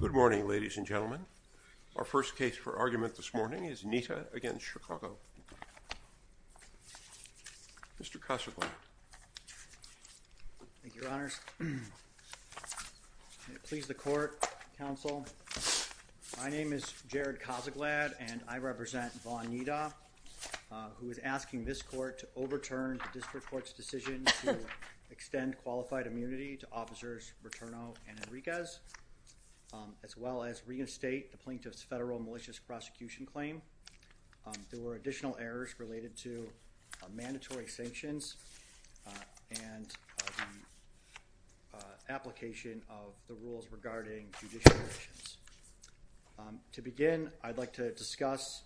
Good morning ladies and gentlemen. Our first case for argument this morning is Neita against Chicago. Mr. Cossaglad. Thank you, Your Honors. May it please the court, counsel. My name is Jared Cossaglad and I represent Vaughn Neita, who is asking this court to overturn the district court's decision to extend qualified immunity to officers Bertorno and Enriquez, as well as reinstate the plaintiff's federal malicious prosecution claim. There were additional errors related to mandatory sanctions and application of the rules regarding judicial actions. To begin, I'd like to discuss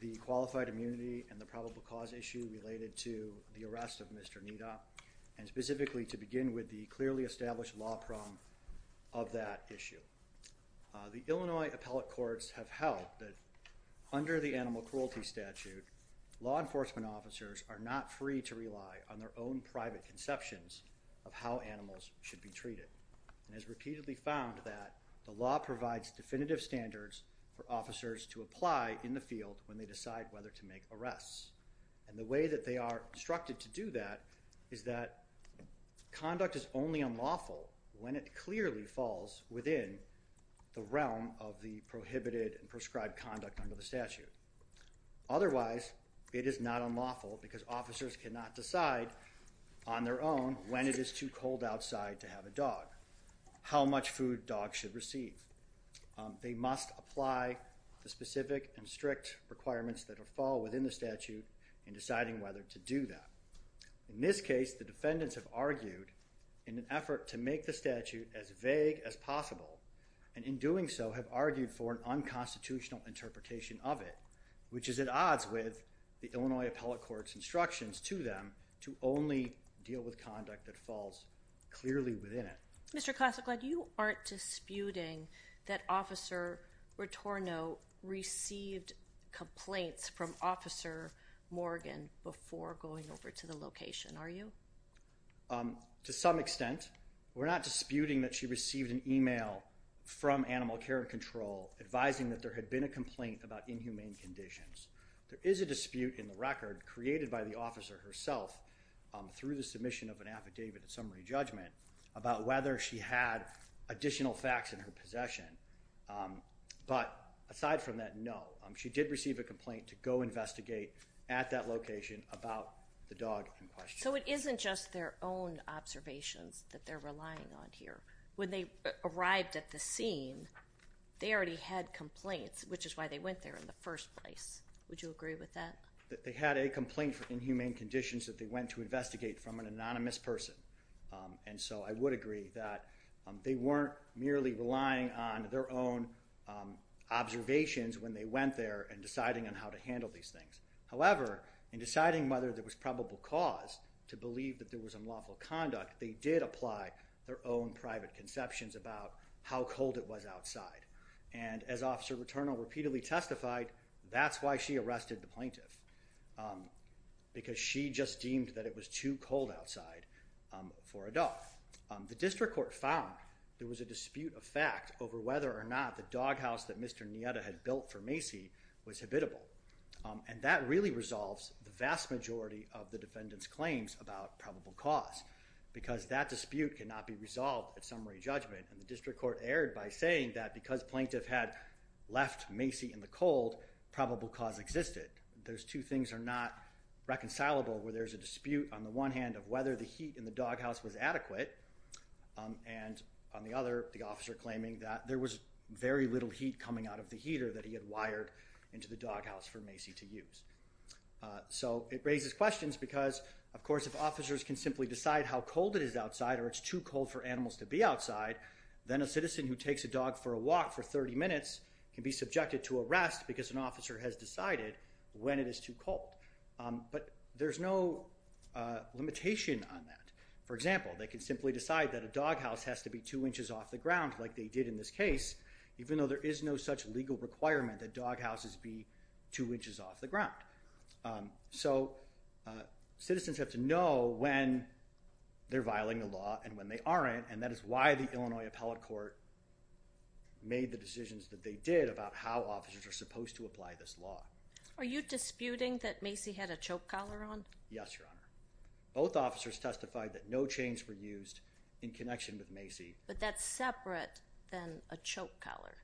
the qualified immunity and the probable cause issue related to the arrest of Mr. Neita, and specifically to begin with the clearly established law problem of that issue. The Illinois appellate courts have held that under the animal cruelty statute, law enforcement officers are not free to rely on their own private conceptions of how animals should be treated, and has repeatedly found that the law provides definitive standards for officers to that they are instructed to do that is that conduct is only unlawful when it clearly falls within the realm of the prohibited and prescribed conduct under the statute. Otherwise, it is not unlawful because officers cannot decide on their own when it is too cold outside to have a dog, how much food dogs should receive. They must apply the specific and strict requirements that are fall within the statute. In this case, the defendants have argued in an effort to make the statute as vague as possible, and in doing so have argued for an unconstitutional interpretation of it, which is at odds with the Illinois appellate court's instructions to them to only deal with conduct that falls clearly within it. Mr. Klassiglaed, you aren't disputing that officer Rotorno received complaints from Officer Morgan before going over to the location, are you? To some extent. We're not disputing that she received an email from Animal Care and Control advising that there had been a complaint about inhumane conditions. There is a dispute in the record created by the officer herself through the submission of an affidavit at summary judgment about whether she had additional facts in her possession, but aside from that, no. She did receive a complaint to go investigate at that location about the dog in question. So it isn't just their own observations that they're relying on here. When they arrived at the scene, they already had complaints, which is why they went there in the first place. Would you agree with that? They had a complaint for inhumane conditions that they went to investigate from an anonymous person, and so I would agree that they weren't merely relying on their own observations when they went there and deciding on how to handle these things. However, in deciding whether there was probable cause to believe that there was unlawful conduct, they did apply their own private conceptions about how cold it was outside, and as Officer Rotorno repeatedly testified, that's why she arrested the plaintiff, because she just deemed that it was too cold outside for a dog. The district court found there was a dispute of fact over whether or not the doghouse that Mr. Nieta had built for Macy was habitable, and that really resolves the vast majority of the defendant's claims about probable cause, because that dispute cannot be resolved at summary judgment, and the district court erred by saying that because plaintiff had left Macy in the cold, probable cause existed. Those two things are not reconcilable, where there's a dispute on the one hand of whether the heat in the doghouse was adequate, and on the other, the officer claiming that there was very little heat coming out of the heater that he had wired into the doghouse for Macy to use. So it raises questions, because of course if officers can simply decide how cold it is outside, or it's too cold for animals to be outside, then a citizen who takes a dog for a walk for 30 minutes can be subjected to arrest because an officer has decided when it is too cold. But there's no limitation on that. For example, they can simply decide that a doghouse has to be two inches off the ground like they did in this case, even though there is no such legal requirement that doghouses be two inches off the ground. So citizens have to know when they're violating the law and when they aren't, and that is why the Illinois Appellate Court made the decisions that they did about how officers are supposed to apply this law. Are you disputing that Macy had a choke collar on? Yes, Your Honor. Both officers testified that no chains were used in connection with Macy. But that's separate than a choke collar,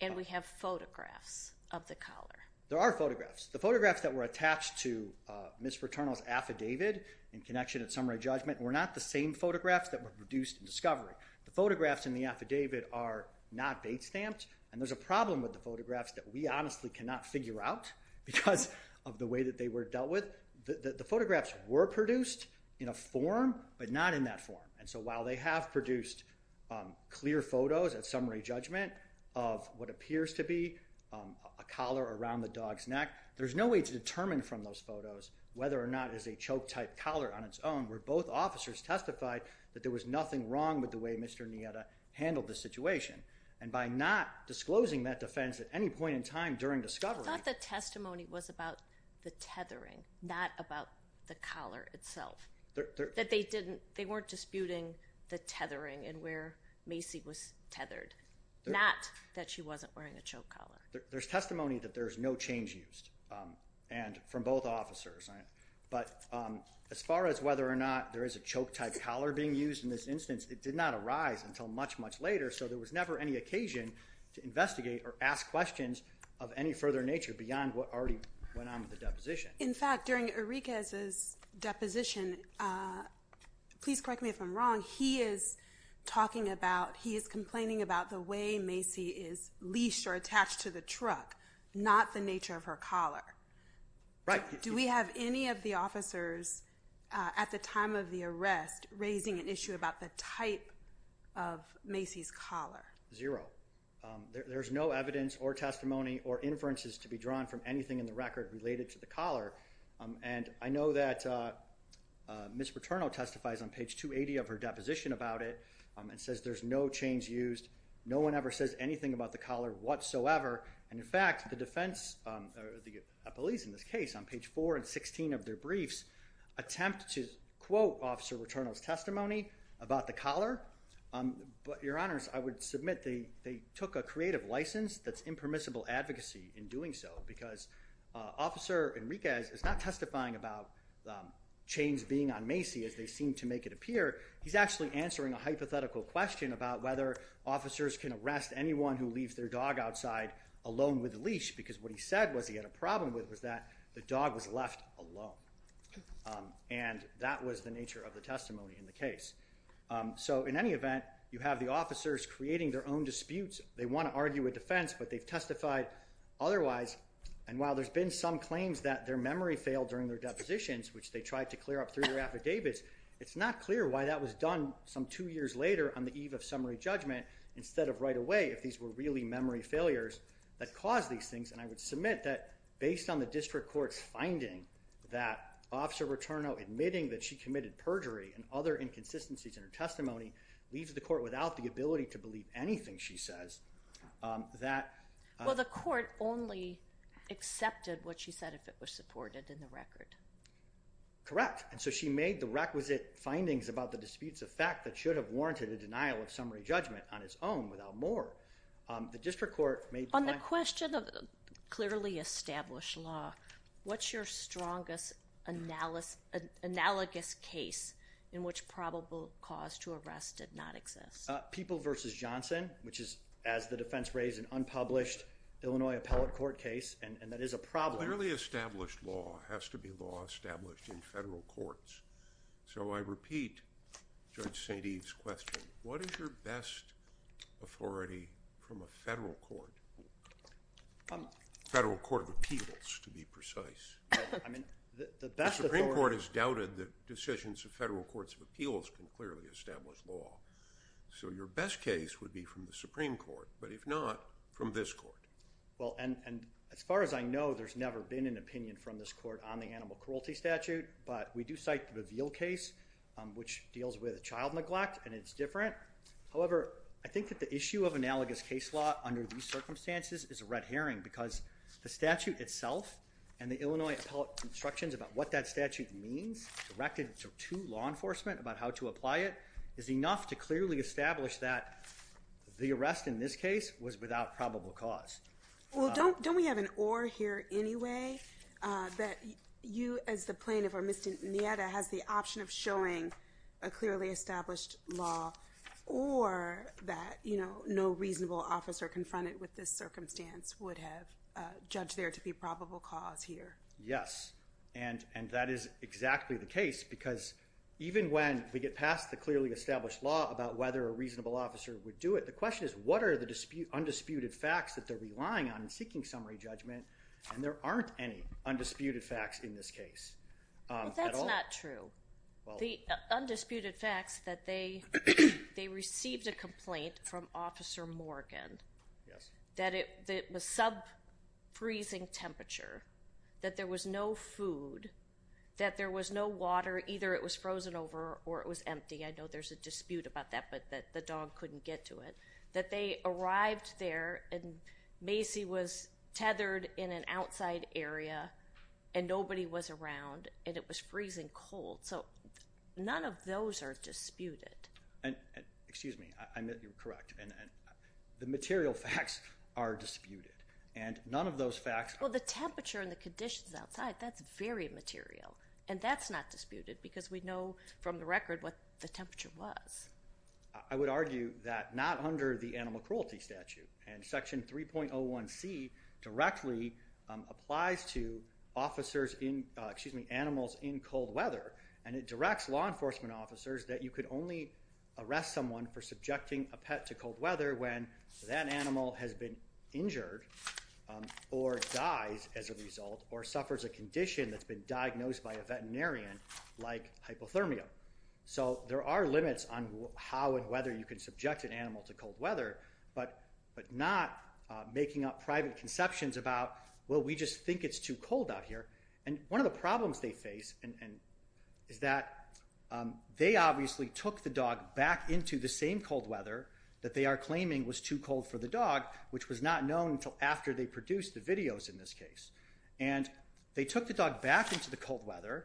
and we have photographs of the collar. There are photographs. The photographs that were attached to Ms. Fraternal's affidavit in connection at summary judgment were not the same photographs that were produced in discovery. The photographs in the affidavit are not eight-stamped, and there's a problem with the photographs that we honestly cannot figure out because of the way that they were dealt with. The photographs were produced in a form, but not in that form. And so while they have produced clear photos at summary judgment of what appears to be a collar around the dog's neck, there's no way to determine from those photos whether or not it is a choke-type collar on its own, where both officers testified that there By not disclosing that defense at any point in time during discovery... I thought the testimony was about the tethering, not about the collar itself. That they weren't disputing the tethering and where Macy was tethered, not that she wasn't wearing a choke collar. There's testimony that there's no chains used from both officers. But as far as whether or not there is a choke-type collar being used in this investigation, to investigate or ask questions of any further nature beyond what already went on with the deposition. In fact, during Uriquez's deposition, please correct me if I'm wrong, he is talking about, he is complaining about the way Macy is leashed or attached to the truck, not the nature of her collar. Right. Do we have any of the officers at the time of the arrest raising an issue about the type of Macy's collar? Zero. There's no evidence or testimony or inferences to be drawn from anything in the record related to the collar. And I know that Ms. Rotorno testifies on page 280 of her deposition about it and says there's no chains used. No one ever says anything about the collar whatsoever. And in fact, the defense, the police in this case, on page 4 and 16 of their briefs attempt to quote Officer Rotorno's testimony about the collar. But Your Honors, I would submit they took a creative license that's impermissible advocacy in doing so because Officer Enriquez is not testifying about chains being on Macy as they seem to make it appear. He's actually answering a hypothetical question about whether officers can arrest anyone who leaves their dog outside alone with a leash because what he said was he had a problem with was that the dog was left alone. And that was the nature of the testimony in the case. So in any event, you have the officers creating their own disputes. They want to argue a defense, but they've testified otherwise. And while there's been some claims that their memory failed during their depositions, which they tried to clear up through their affidavits, it's not clear why that was done some two years later on the eve of summary judgment instead of right away if these were really memory failures that caused these things. And I would submit that based on the district court's finding that Officer Enriquez's inconsistencies in her testimony leaves the court without the ability to believe anything she says. Well, the court only accepted what she said if it was supported in the record. Correct. And so she made the requisite findings about the disputes of fact that should have warranted a denial of summary judgment on its own without more. On the question of clearly established law, what's your strongest analogous case in which probable cause to arrest did not exist? People v. Johnson, which is, as the defense raised, an unpublished Illinois appellate court case, and that is a problem. Clearly established law has to be law established in federal courts. So I repeat Judge St. Eve's question. What is your best authority from a federal court? Federal court of appeals, to be precise. The Supreme Court has doubted that decisions of federal courts of appeals can clearly establish law. So your best case would be from the Supreme Court, but if not, from this court. Well, and as far as I know, there's never been an opinion from this court on the animal cruelty statute, but we do cite the Veal case, which deals with child neglect, and it's different. However, I think that the issue of analogous case law under these circumstances is a red herring because the statute itself and the Illinois appellate instructions about what that statute means directed to law enforcement about how to apply it is enough to clearly establish that the arrest in this case was without probable cause. Well, don't we have an or here anyway that you as the plaintiff or Mr. Nieta has the option of showing a clearly established law or that, you know, no reasonable officer confronted with this circumstance would have judged there to be probable cause here. Yes, and that is exactly the case because even when we get past the clearly established law about whether a reasonable officer would do it, the question is what are the undisputed facts that they're relying on in seeking summary judgment, and there aren't any undisputed facts in this case. That's not true. The undisputed facts that they received a complaint from Officer Morgan that it was sub freezing temperature, that there was no food, that there was no water, either it was frozen over or it was empty. I know there's a dispute about that, but that the dog couldn't get to it, that they arrived there and Macy was tethered in an outside area and nobody was around and it was freezing cold. So none of those are disputed. Excuse me. You're correct. The material facts are disputed, and none of those facts Well, the temperature and the conditions outside, that's very material, and that's not disputed because we know from the record what the temperature was. I would argue that not under the animal cruelty statute, and Section 3.01c directly applies to officers in, excuse me, animals in cold weather, and it directs law enforcement officers that you could only arrest someone for subjecting a pet to cold weather when that animal has been injured or dies as a result or suffers a condition that's been diagnosed by a veterinarian like hypothermia. So there are limits on how and whether you can subject an animal to cold weather, but not making up private conceptions about, well, we just think it's too cold out here. And one of the problems they face is that they obviously took the dog back into the same cold weather that they are claiming was too cold for the dog, which was not known until after they produced the videos in this case. And they took the dog back into the cold weather.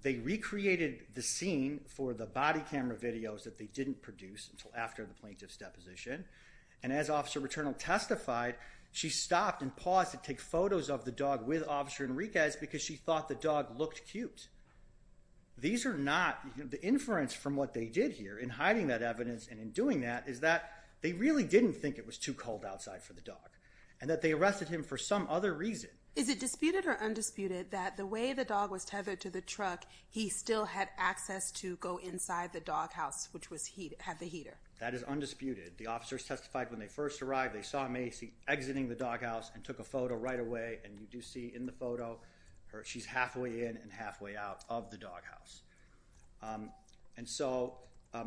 They recreated the scene for the body camera videos that they didn't produce until after the plaintiff's deposition. And as Officer Returnal testified, she stopped and paused to take a picture because she thought the dog looked cute. These are not, the inference from what they did here in hiding that evidence and in doing that is that they really didn't think it was too cold outside for the dog and that they arrested him for some other reason. Is it disputed or undisputed that the way the dog was tethered to the truck, he still had access to go inside the doghouse, which had the heater? That is undisputed. The officers testified when they first arrived, they saw Macy exiting the doghouse and took a photo right away, and you do see in the photo, she's halfway in and halfway out of the doghouse. And so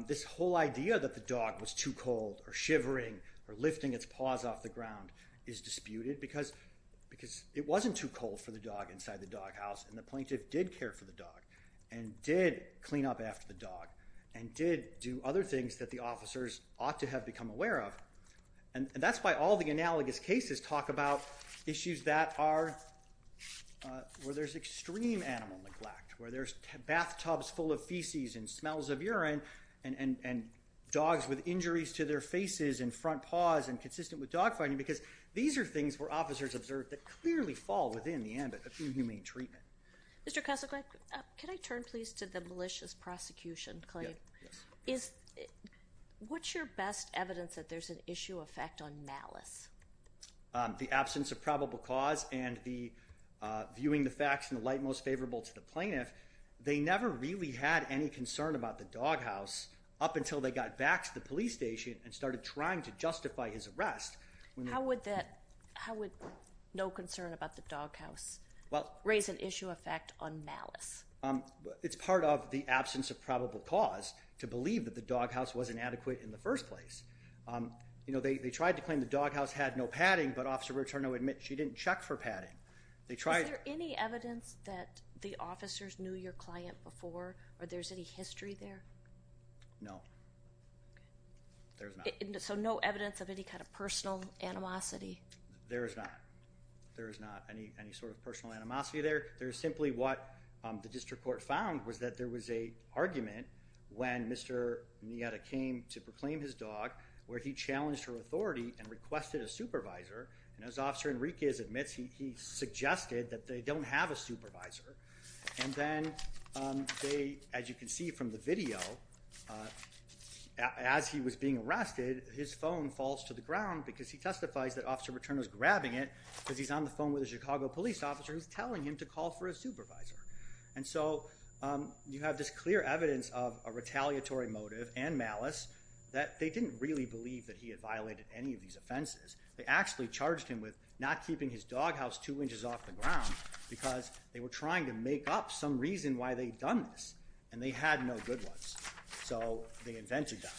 this whole idea that the dog was too cold or shivering or lifting its paws off the ground is disputed because it wasn't too cold for the dog inside the doghouse and the plaintiff did care for the dog and did clean up after the dog and did do other things that the officers ought to have become aware of. And that's why all the analogous cases talk about issues that are where there's extreme animal neglect, where there's bathtubs full of feces and smells of urine and dogs with injuries to their faces and front paws and consistent with dog fighting because these are things where officers observed that clearly fall within the ambit of inhumane treatment. Mr. Kosselkrank, can I turn please to the malicious prosecution claim? What's your best evidence that there's an issue effect on malice? The absence of probable cause and the viewing the facts in the light most favorable to the plaintiff, they never really had any concern about the doghouse up until they got back to the police station and started trying to justify his arrest. How would no concern about the doghouse raise an issue effect on malice? It's part of the absence of probable cause to believe that the doghouse wasn't adequate in the first place. You know, they tried to claim the doghouse had no padding, but Officer Riturno admit she didn't check for padding. Is there any evidence that the officers knew your client before or there's any history there? No. There's not. So no evidence of any kind of personal animosity? There's not. There's not any sort of personal animosity there. There's simply what the district court found was that there was a where he challenged her authority and requested a supervisor. And as Officer Enriquez admits, he suggested that they don't have a supervisor. And then as you can see from the video, as he was being arrested, his phone falls to the ground because he testifies that Officer Riturno is grabbing it because he's on the phone with a Chicago police officer who's telling him to call for a supervisor. And so you have this clear evidence of a retaliatory motive and they didn't really believe that he had violated any of these offenses. They actually charged him with not keeping his doghouse two inches off the ground because they were trying to make up some reason why they'd done this and they had no good ones. So they invented that.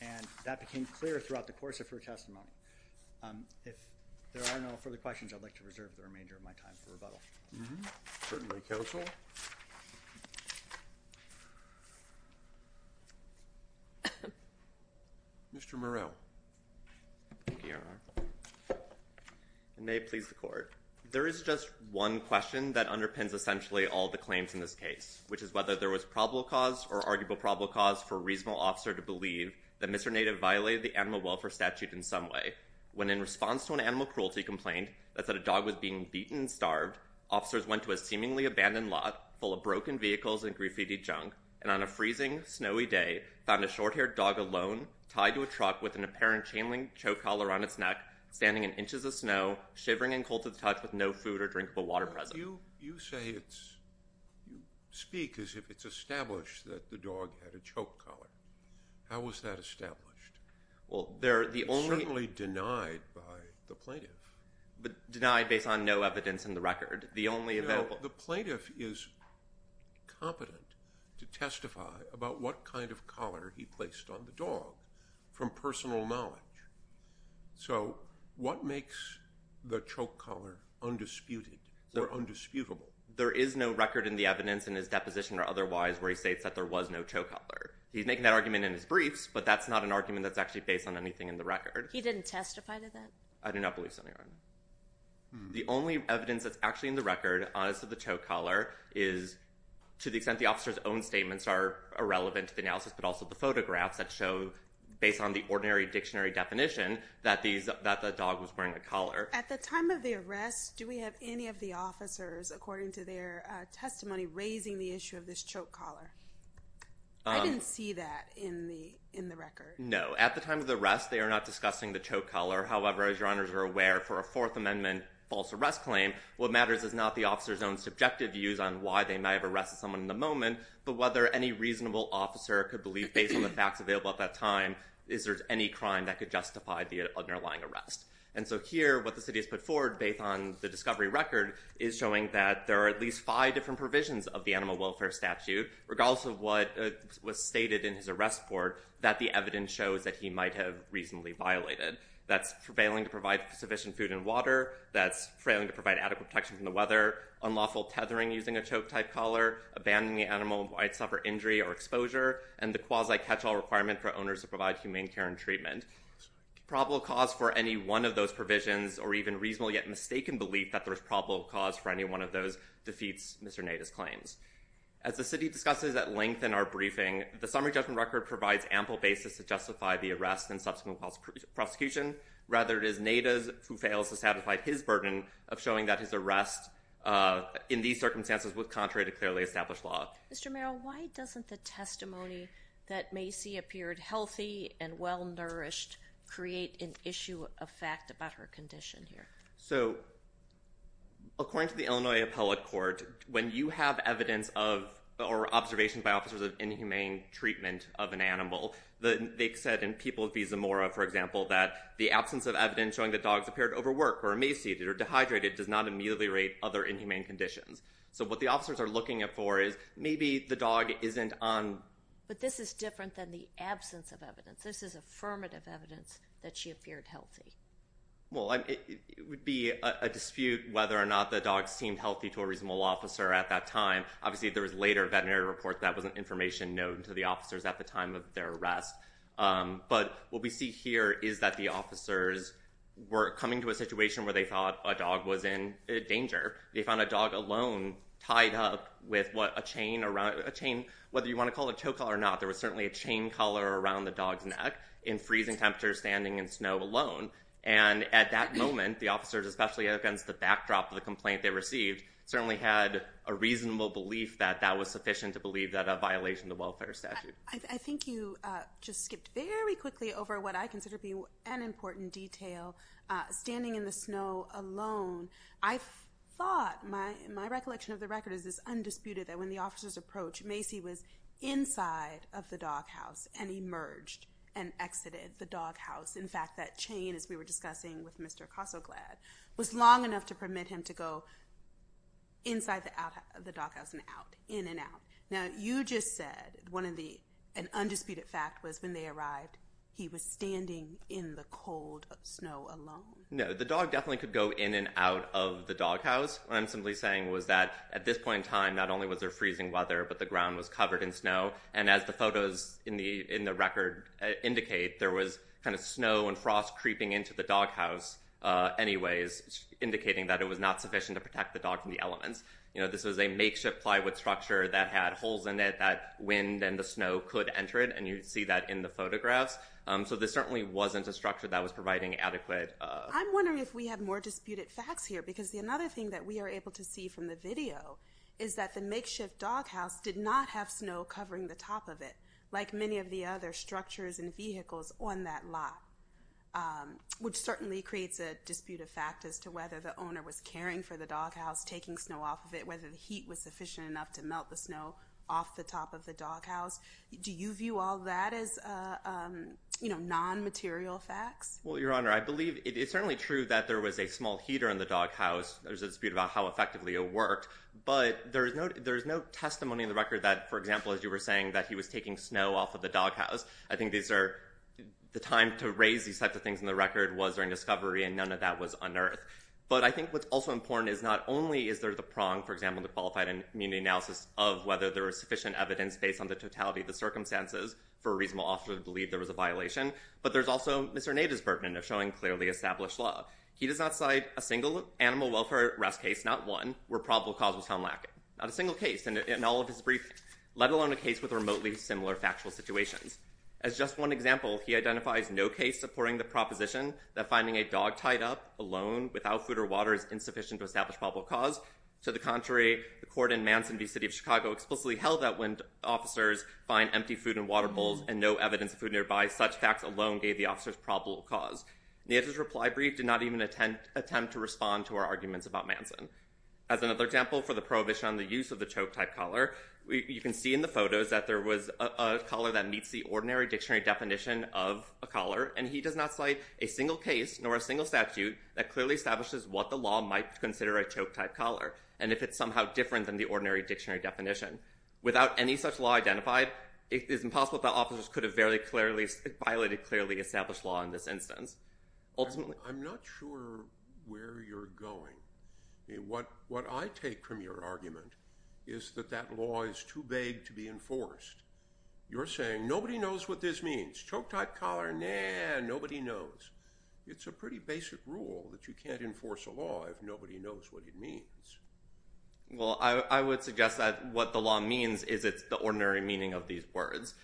And that became clear throughout the course of her testimony. If there are no further questions, I'd like to reserve the remainder of my time for rebuttal. Certainly, counsel. Mr. Murrell. May it please the court. There is just one question that underpins essentially all the claims in this case, which is whether there was probable cause or arguable probable cause for a reasonable officer to believe that Mr. Native violated the animal welfare statute in some way. When in response to an animal cruelty complaint that said a dog was being beaten and starved, officers went to a seemingly abandoned lot full of broken vehicles and graffiti junk and on a freezing, snowy day, found a short-haired dog alone tied to a truck with an apparent chain link choke collar on its neck standing in inches of snow, shivering and cold to the touch with no food or drinkable water present. You say it's, you speak as if it's established that the dog had a choke collar. How was that established? Well, the only- It's certainly denied by the plaintiff. Denied based on no evidence in the record. The only available- Well, the plaintiff is competent to testify about what kind of collar he placed on the dog from personal knowledge. So what makes the choke collar undisputed or undisputable? There is no record in the evidence in his deposition or otherwise where he states that there was no choke collar. He's making that argument in his briefs, but that's not an argument that's actually based on anything in the record. I do not believe so, Your Honor. The only evidence that's actually in the record as to the choke collar is to the extent the officer's own statements are irrelevant to the analysis, but also the photographs that show, based on the ordinary dictionary definition, that the dog was wearing a collar. At the time of the arrest, do we have any of the officers, according to their testimony, raising the issue of this choke collar? I didn't see that in the record. No. At the time of the arrest, they are not discussing the choke collar. However, as Your Honors are aware, for a Fourth Amendment false arrest claim, what matters is not the officer's own subjective views on why they may have arrested someone in the moment, but whether any reasonable officer could believe, based on the facts available at that time, is there any crime that could justify the underlying arrest. And so here, what the city has put forward, based on the discovery record, is showing that there are at least five different provisions of the Animal Welfare Statute, regardless of what was stated in his arrest report, that the evidence shows that he might have reasonably violated. That's failing to provide sufficient food and water. That's failing to provide adequate protection from the weather. Unlawful tethering using a choke-type collar. Abandoning the animal might suffer injury or exposure. And the quasi-catch-all requirement for owners to provide humane care and treatment. Probable cause for any one of those provisions, or even reasonable yet mistaken belief that there's probable cause for any one of those, defeats Mr. Neda's claims. As the city discusses at length in our briefing, the summary judgment record provides ample basis to justify the prosecution. Rather, it is Neda's who fails to satisfy his burden of showing that his arrest, in these circumstances, was contrary to clearly established law. Mr. Merrill, why doesn't the testimony that Macy appeared healthy and well-nourished create an issue of fact about her condition here? So, according to the Illinois Appellate Court, when you have evidence of, or observations by officers of inhumane treatment of an animal, they said in Peoples v. Zamora, for example, that the absence of evidence showing that dogs appeared overworked or emaciated or dehydrated does not immediately rate other inhumane conditions. So, what the officers are looking for is maybe the dog isn't on... But this is different than the absence of evidence. This is affirmative evidence that she appeared healthy. Well, it would be a dispute whether or not the dog seemed healthy to a reasonable officer at that time. Obviously, there was later veterinary reports that wasn't information known to the officers at the time of their arrest. But what we see here is that the officers were coming to a situation where they thought a dog was in danger. They found a dog alone tied up with what a chain around... Whether you want to call it a toe collar or not, there was certainly a chain collar around the dog's neck in freezing temperatures, standing in snow alone. And at that moment, the officers, especially against the backdrop of the complaint they received, certainly had a reasonable belief that that was sufficient to believe that a violation of the welfare statute. I think you just skipped very quickly over what I consider to be an important detail, standing in the snow alone. I thought... My recollection of the record is it's undisputed that when the officers approached, Macy was inside of the doghouse and emerged and exited the doghouse. In fact, that chain, as we were discussing with Mr. Casoglad, was long enough to permit him to go inside the doghouse and out, in and out. Now, you just said one of the... An undisputed fact was when they arrived, he was standing in the cold snow alone. No, the dog definitely could go in and out of the doghouse. What I'm simply saying was that at this point in time, not only was there freezing weather, but the ground was covered in snow. And as the photos in the record indicate, there was kind of snow and frost creeping into the doghouse anyways, indicating that it was not sufficient to protect the dog from the elements. You know, this was a makeshift plywood structure that had holes in it that wind and the snow could enter it. And you see that in the photographs. So this certainly wasn't a structure that was providing adequate... I'm wondering if we have more disputed facts here, because another thing that we are able to see from the video is that the makeshift doghouse did not have snow covering the top of it, like many of the other structures and vehicles on that lot, which certainly creates a dispute of fact as to whether the owner was caring for the doghouse, taking snow off of it, whether the heat was sufficient enough to melt the snow off the top of the doghouse. Do you view all that as, you know, non-material facts? Well, Your Honor, I believe it's certainly true that there was a small heater in the doghouse. There's a dispute about how effectively it worked. But there's no testimony in the record that, for example, as you were saying, that he was taking snow off of the doghouse. I think these are... The time to raise these types of things in the record was during the time that that was unearthed. But I think what's also important is not only is there the prong, for example, in the qualified immunity analysis of whether there is sufficient evidence based on the totality of the circumstances for a reasonable officer to believe there was a violation, but there's also Mr. Nader's burden of showing clearly established law. He does not cite a single animal welfare arrest case, not one, where probable cause was found lacking. Not a single case in all of his briefings, let alone a case with remotely similar factual situations. As just one example, he identifies no case supporting the proposition that finding a dog tied up alone without food or water is insufficient to establish probable cause. To the contrary, the court in Manson v. City of Chicago explicitly held that when officers find empty food in water bowls and no evidence of food nearby, such facts alone gave the officers probable cause. Nader's reply brief did not even attempt to respond to our arguments about Manson. As another example, for the prohibition on the use of the choke-type collar, you can see in the photos that there was a collar that meets the ordinary dictionary definition of a choke-type collar. It does not cite a single case nor a single statute that clearly establishes what the law might consider a choke-type collar, and if it's somehow different than the ordinary dictionary definition. Without any such law identified, it is impossible that officers could have violated clearly established law in this instance. I'm not sure where you're going. What I take from your argument is that that law is too vague to be enforced. You're saying, nobody knows what this means. Choke-type collar? Nah, nobody knows. It's a pretty basic rule that you can't enforce a law if nobody knows what it means. Well, I would suggest that what the law means is it's the ordinary meaning of these words.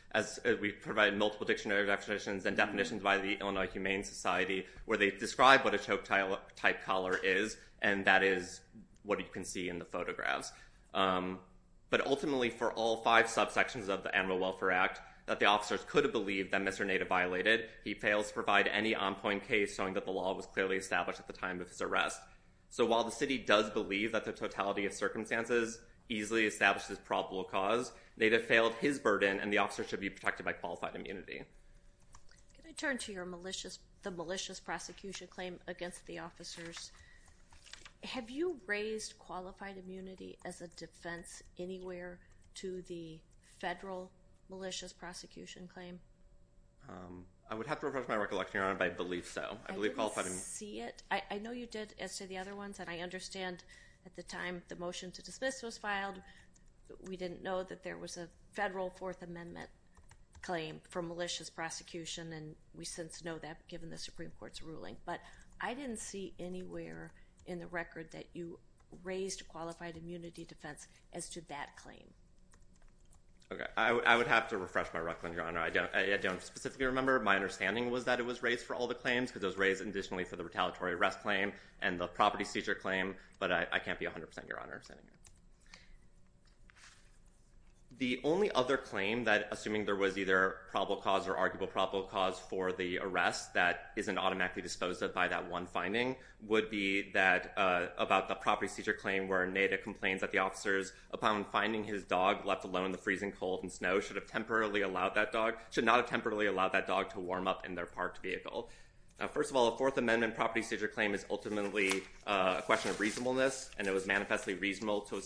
We provide multiple dictionary definitions and definitions by the Illinois Humane Society where they describe what a choke-type collar is, and that is what you can see in the photographs. But ultimately, for all five subsections of the Animal Welfare Act, that the officers could have believed that Mr. Native violated, he fails to provide any on-point case showing that the law was clearly established at the time of his arrest. So while the city does believe that the totality of circumstances easily establishes probable cause, Native failed his burden and the officers should be protected by qualified immunity. Can I turn to the malicious prosecution claim against the officers? Have you raised qualified immunity as a defense anywhere to the federal malicious prosecution claim? I would have to refresh my recollection, Your Honor, but I believe so. I believe qualified immunity... I didn't see it. I know you did as to the other ones, and I understand at the time the motion to dismiss was filed, we didn't know that there was a federal Fourth Amendment claim for malicious prosecution, and we since know that given the Supreme Court's ruling. But I didn't see anywhere in the record that you raised qualified immunity defense as to that claim. Okay. I would have to refresh my recollection, Your Honor. I don't specifically remember. My understanding was that it was raised for all the claims because it was raised additionally for the retaliatory arrest claim and the property seizure claim, but I can't be 100%, Your Honor. The only other claim that assuming there was either probable cause or arguable probable cause for the arrest that isn't automatically disposed of by that one finding would be that about the property seizure claim where Native complains that the officers upon finding his dog left alone in the freezing cold and snow should not have temporarily allowed that dog to warm up in their parked vehicle. First of all, a Fourth Amendment property seizure claim is ultimately a question of reasonableness, and it was manifestly reasonable to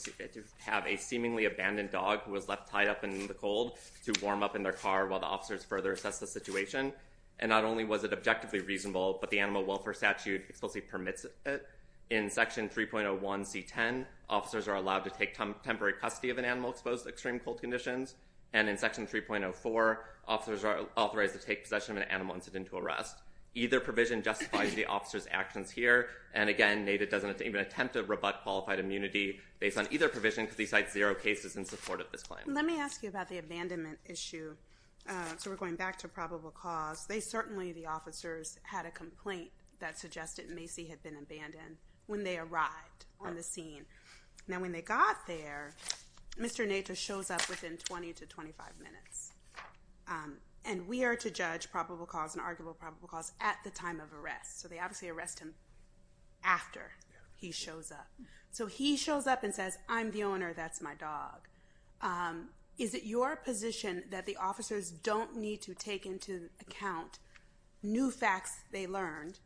have a seemingly abandoned dog who was left tied up in the cold to warm up in their car while the officers further assessed the situation, and not only was it objectively reasonable, but the Animal Welfare Statute explicitly permits it. In Section 3.01C10, officers are allowed to take temporary custody of an animal exposed to extreme cold conditions, and in Section 3.04, officers are authorized to take possession of an animal incident to arrest. Either provision justifies the officer's actions here, and again, Native doesn't even attempt to rebut qualified immunity based on either provision because he cites zero cases in support of this claim. Let me ask you about the abandonment issue. So we're going back to probable cause. They certainly, the officers, had a complaint that suggested Macy had been abandoned when they arrived on the scene. Now, when they got there, Mr. Native shows up within 20 to 25 minutes, and we are to judge probable cause and arguable probable cause at the time of arrest. So they obviously arrest him after he shows up. So he shows up and says, I'm the owner. That's my dog. Is it your position that the officers don't need to take into account new facts they learned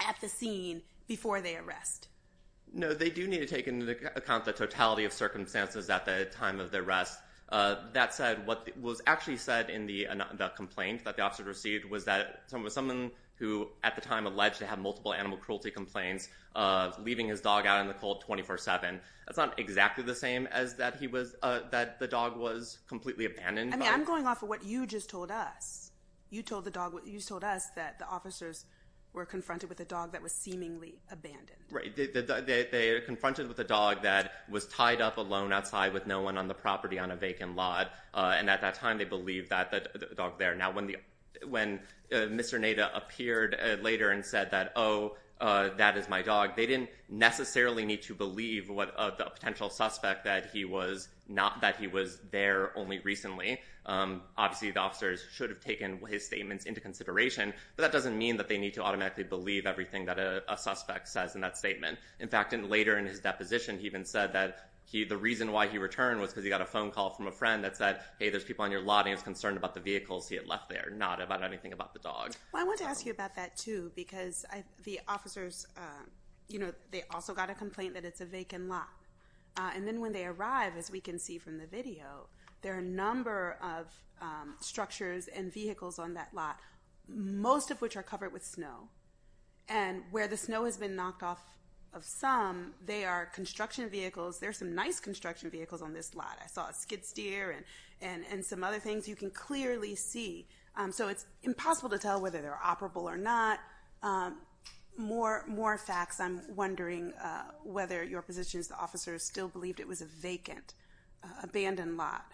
at the scene before they arrest? No, they do need to take into account the totality of circumstances at the time of the arrest. That said, what was actually said in the complaint that the officer received was that someone who at the time alleged to have multiple animal cruelty complaints, leaving his dog out in the cold 24-7. That's not exactly the same as that he was, that the dog was completely abandoned. I mean, I'm going off of what you just told us. You told the dog, you told us that the officers were confronted with a dog that was seemingly abandoned. Right. They were confronted with a dog that was tied up alone outside with no one on the property on a vacant lot, and at that time they believed that the dog there. Now, when Mr. Neda appeared later and said that, oh, that is my dog, they didn't necessarily need to believe a potential suspect that he was there only recently. Obviously, the officers should have taken his statements into consideration, but that doesn't mean that they need to believe that statement. In fact, later in his deposition he even said that the reason why he returned was because he got a phone call from a friend that said, hey, there's people on your lot, and he was concerned about the vehicles he had left there, not about anything about the dog. Well, I want to ask you about that, too, because the officers, you know, they also got a complaint that it's a vacant lot, and then when they arrive, as we can see from the video, there are a number of structures and vehicles on that lot, most of which are covered with snow, and where the snow has been knocked off of some, they are construction vehicles. There are some nice construction vehicles on this lot. I saw a skid steer and some other things. You can clearly see, so it's impossible to tell whether they're operable or not. More facts. I'm wondering whether your position is the officers still believed it was a vacant, abandoned lot.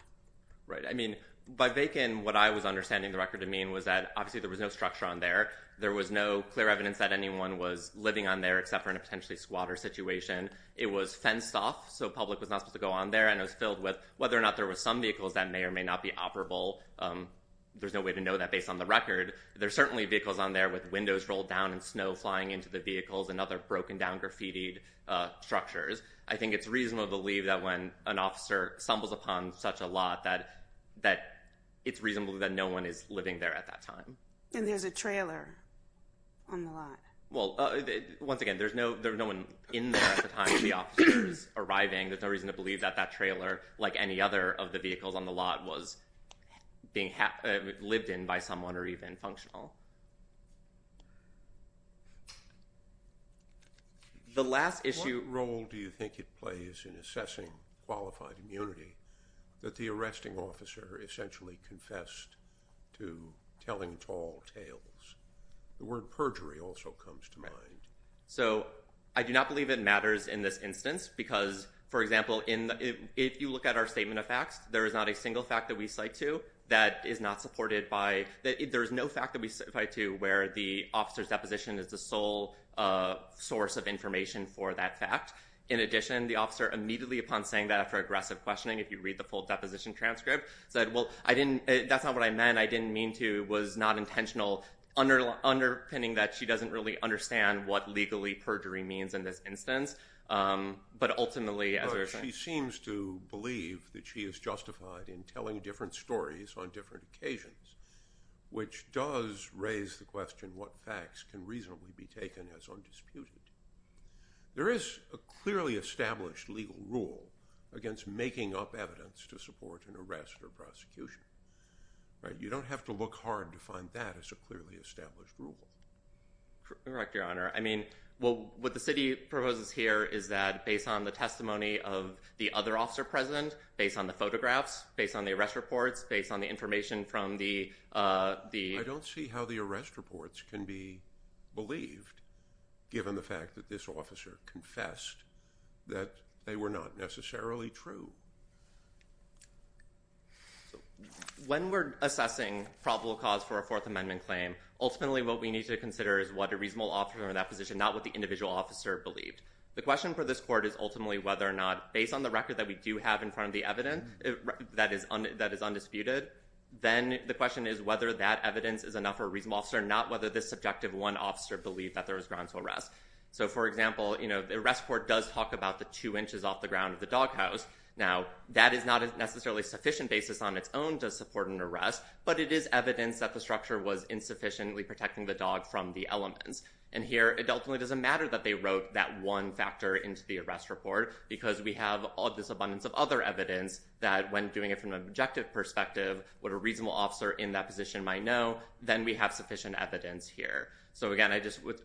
Right. I mean, by vacant, what I was understanding the record to mean was that, obviously, there was no structure on there. There was no clear evidence that anyone was living on there except for in a potentially squatter situation. It was fenced off, so public was not supposed to go on there, and it was filled with whether or not there were some vehicles that may or may not be operable. There's no way to know that based on the record. There's certainly vehicles on there with windows rolled down and snow flying into the vehicles and other broken down graffitied structures. I think it's reasonable to believe that when an officer stumbles upon such a lot that it's reasonable that no one is living there at that time. And there's a trailer on the lot. Well, once again, there's no one in there at the time the officer is arriving. There's no reason to believe that that trailer, like any other of the vehicles on the lot, was being lived in by someone or even functional. The last issue... What role do you think it plays in assessing qualified immunity that the arresting officer essentially confessed to telling tall tales? The word perjury also comes to mind. Right. So I do not believe it matters in this instance because, for example, if you look at our statement of facts, there is not a single fact that we cite to that is not supported by... There is no fact that we cite to where the officer's deposition is the sole source of information for that fact. In addition, the officer immediately upon saying that after aggressive questioning, if you read the full deposition transcript, said, well, I didn't... That's not what I meant. I didn't mean to. It was not intentional, underpinning that she doesn't really understand what legally perjury means in this instance. But ultimately... She seems to believe that she is justified in telling different stories on different occasions, which does raise the question what facts can reasonably be taken as undisputed. There is a clearly established legal rule against making up evidence to support an arrest or prosecution. Right? You don't have to look hard to find that as a clearly established rule. Correct, Your Honour. I mean, what the city proposes here is that, based on the testimony of the other officer present, based on the photographs, based on the arrest reports, based on the information from the... I don't see how the arrest reports can be believed, given the fact that this officer confessed that they were not necessarily true. When we're assessing probable cause for a Fourth Amendment claim, ultimately what we need to consider is what a reasonable officer in that position, not what the individual officer believed. The question for this court is ultimately whether or not, based on the record that we do have in front of the evidence that is undisputed, then the question is whether that evidence is enough for a reasonable officer, not whether this subjective one officer believed that there was grounds for arrest. For example, the arrest report does talk about the two inches off the ground of the doghouse. Now, that is not necessarily a sufficient basis on its own to support an arrest, but it is evidence that the structure was insufficiently protecting the dog from the elements. Here, it ultimately doesn't matter that they wrote that one factor into the arrest report, because we have all this abundance of other evidence that, when doing it from an objective perspective, what a reasonable officer in that position might know, then we have sufficient evidence here. So, again, I just would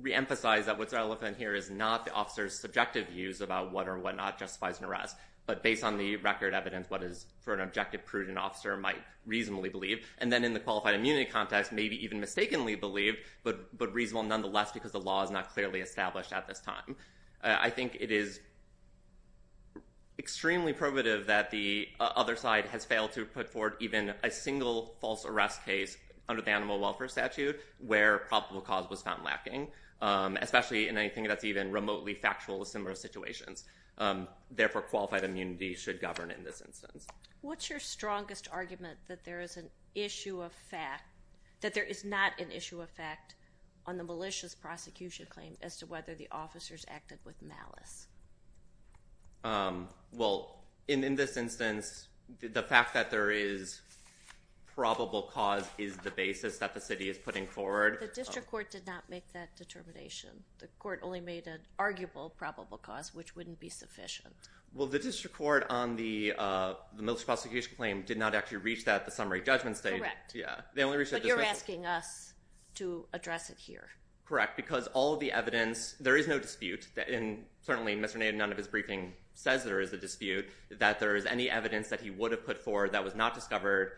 reemphasize that what's relevant here is not the officer's subjective views about what or what not justifies an arrest, but based on the record evidence, what is, for an objective prudent officer, might reasonably believe. And then in the qualified immunity context, maybe even mistakenly believe, but reasonable nonetheless, because the law is not clearly established at this time. I think it is extremely probative that the other side has failed to put forward even a single false arrest case under the Animal Welfare Statute where probable cause was found lacking, especially in anything that's even remotely factual with similar situations. Therefore, qualified immunity should govern in this instance. What's your strongest argument that there is an issue of fact, that there is not an issue of fact on the malicious prosecution claim as to whether the officers acted with malice? Well, in this instance, the fact that there is probable cause is not the basis that the city is putting forward. The district court did not make that determination. The court only made an arguable probable cause, which wouldn't be sufficient. Well, the district court on the malicious prosecution claim did not actually reach that at the summary judgment stage. Correct. Yeah. But you're asking us to address it here. Correct. Because all of the evidence, there is no dispute, and certainly Mr. Naden, none of his briefing says there is a dispute, that there is any evidence that he would have put forward that was not discovered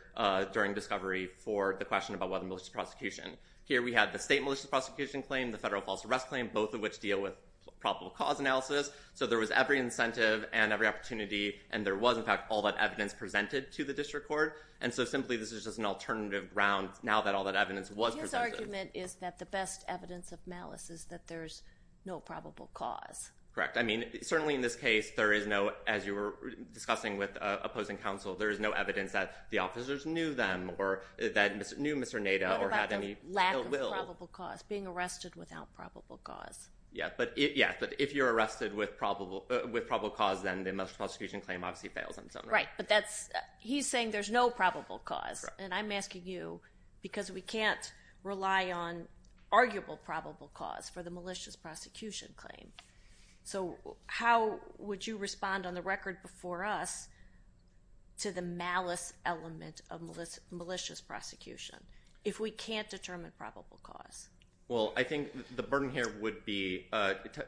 during discovery for the question about whether malicious prosecution. Here we have the state malicious prosecution claim, the federal false arrest claim, both of which deal with probable cause analysis. So there was every incentive and every opportunity, and there was, in fact, all that evidence presented to the district court. And so, simply, this is just an alternative ground now that all that evidence was presented. His argument is that the best evidence of malice is that there's no probable cause. Correct. I mean, certainly in this case, there is no, as you were discussing with opposing counsel, there is no evidence that the officers knew them or that knew Mr. Naden. What about the lack of probable cause, being arrested without probable cause? Yeah. But if you're arrested with probable cause, then the malicious prosecution claim obviously fails. Right. But that's.. He's saying there's no probable cause. And I'm asking you because we can't rely on arguable probable cause for the malicious prosecution claim. So how would you respond on the record before us to the malice element of malicious prosecution if we can't determine probable cause? Well, I think the burden here would be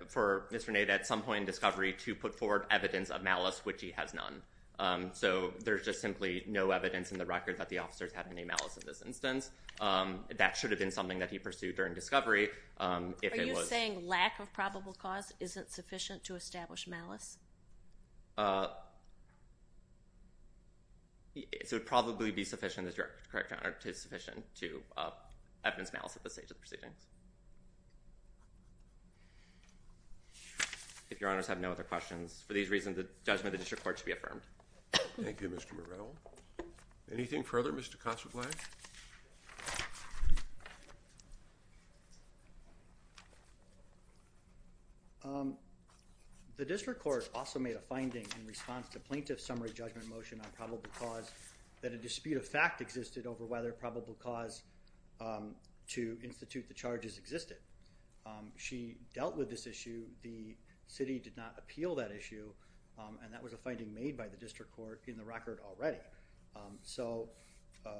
for Mr. Naden at some point in discovery to put forward evidence of malice, which he has none. So there's just simply no evidence in the record that the officers had any malice in this instance. That should have been something that he pursued during discovery. Are you saying lack of probable cause isn't sufficient to establish malice? It would probably be sufficient as you're correct, Your Honor, it is sufficient to evidence malice at this stage of the proceedings. If Your Honors have no other questions, for these reasons the judgment of the district court should be affirmed. Thank you, Mr. Morel. Anything further, Mr. Kosselbeck? Your Honor? The district court also made a finding in response to plaintiff summary judgment motion on probable cause that a dispute of fact existed over whether probable cause to institute the charges existed. She dealt with this issue. The city did not appeal that issue and that was a finding made by the district court in the record already. I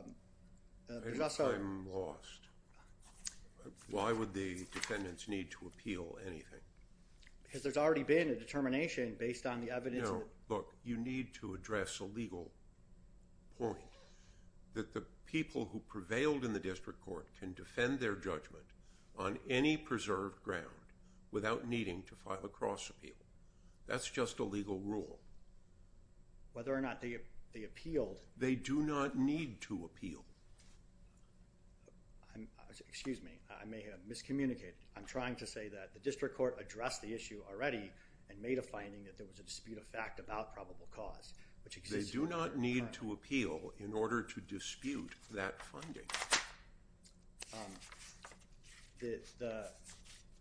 think I'm lost. Why would the defendants need to appeal anything? Because there's already been a determination based on the evidence. No, look, you need to address a legal point that the people who prevailed in the district court can defend their judgment on any preserved ground without needing to file a cross appeal. That's just a legal rule. Whether or not they appealed. They do not need to appeal. Excuse me. I may have miscommunicated. I'm trying to say that the district court addressed the issue already and made a finding that there was a dispute of fact about probable cause which exists. They do not need to appeal in order to dispute that funding. The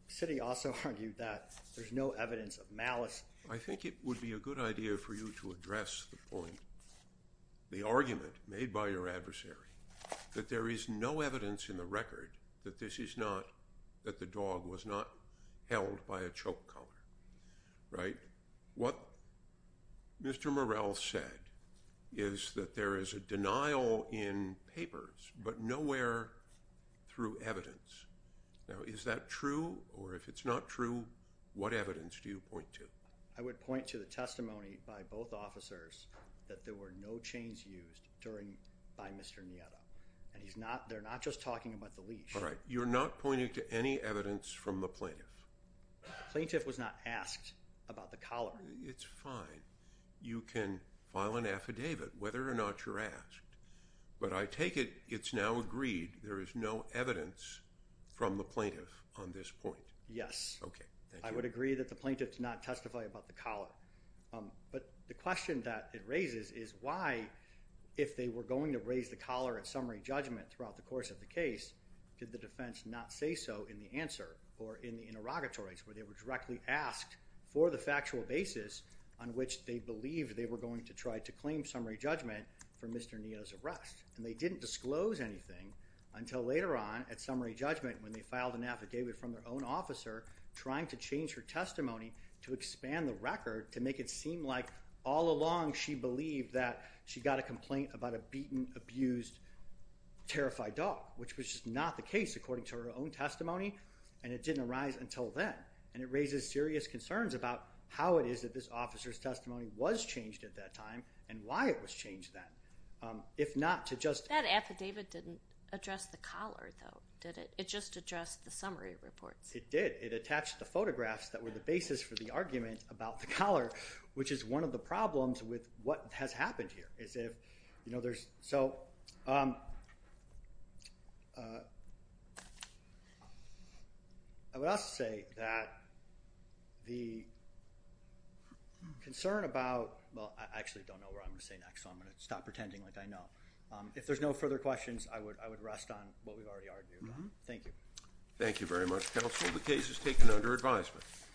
city also argued that there's no evidence of malice. I think it would be a good idea for you to address the point, the argument made by your adversary that there is no evidence in the record that this is not, that the dog was not held by a choke collar, right? What Mr. Morell said is that there is a denial in papers but nowhere through evidence. Now, is that true or if it's not true, what evidence do you point to? I would point to the testimony by both officers that there were no chains used during, by Mr. Nieto. And he's not, they're not just talking about the leash. All right. You're not pointing to any evidence from the plaintiff. The plaintiff was not asked about the collar. It's fine. You can file an affidavit whether or not you're asked. But I take it it's now agreed there is no evidence from the plaintiff on this point. Yes. Okay. I would agree that the plaintiff did not testify about the collar. But the question that it raises is why if they were going to raise the collar at summary judgment throughout the course of the case, did the defense not say so in the answer or in the interrogatories where they were directly asked for the factual basis on which they believed they were going to try to claim summary judgment for Mr. Nieto's arrest. And they didn't disclose anything until later on at summary judgment when they filed an affidavit from their own officer trying to change her testimony to expand the record to make it seem like all along she believed that she got a complaint about a beaten, abused, terrified dog, which was just not the case according to her own testimony. And it didn't arise until then. And it raises serious concerns about how it is that this officer's testimony was changed at that time and why it was changed then. If not to just... That affidavit didn't address the collar, though, did it? It just addressed the summary reports. It did. It attached the photographs that were the basis for the argument about the collar, which is one of the problems with what has happened here, is if, you know, there's... So... I would also say that the concern about... Well, I actually don't know what I'm going to say next, so I'm going to stop pretending like I know. If there's no further questions, I would rest on what we've already argued on. Thank you. Thank you very much, Counsel. The case is taken under advisement.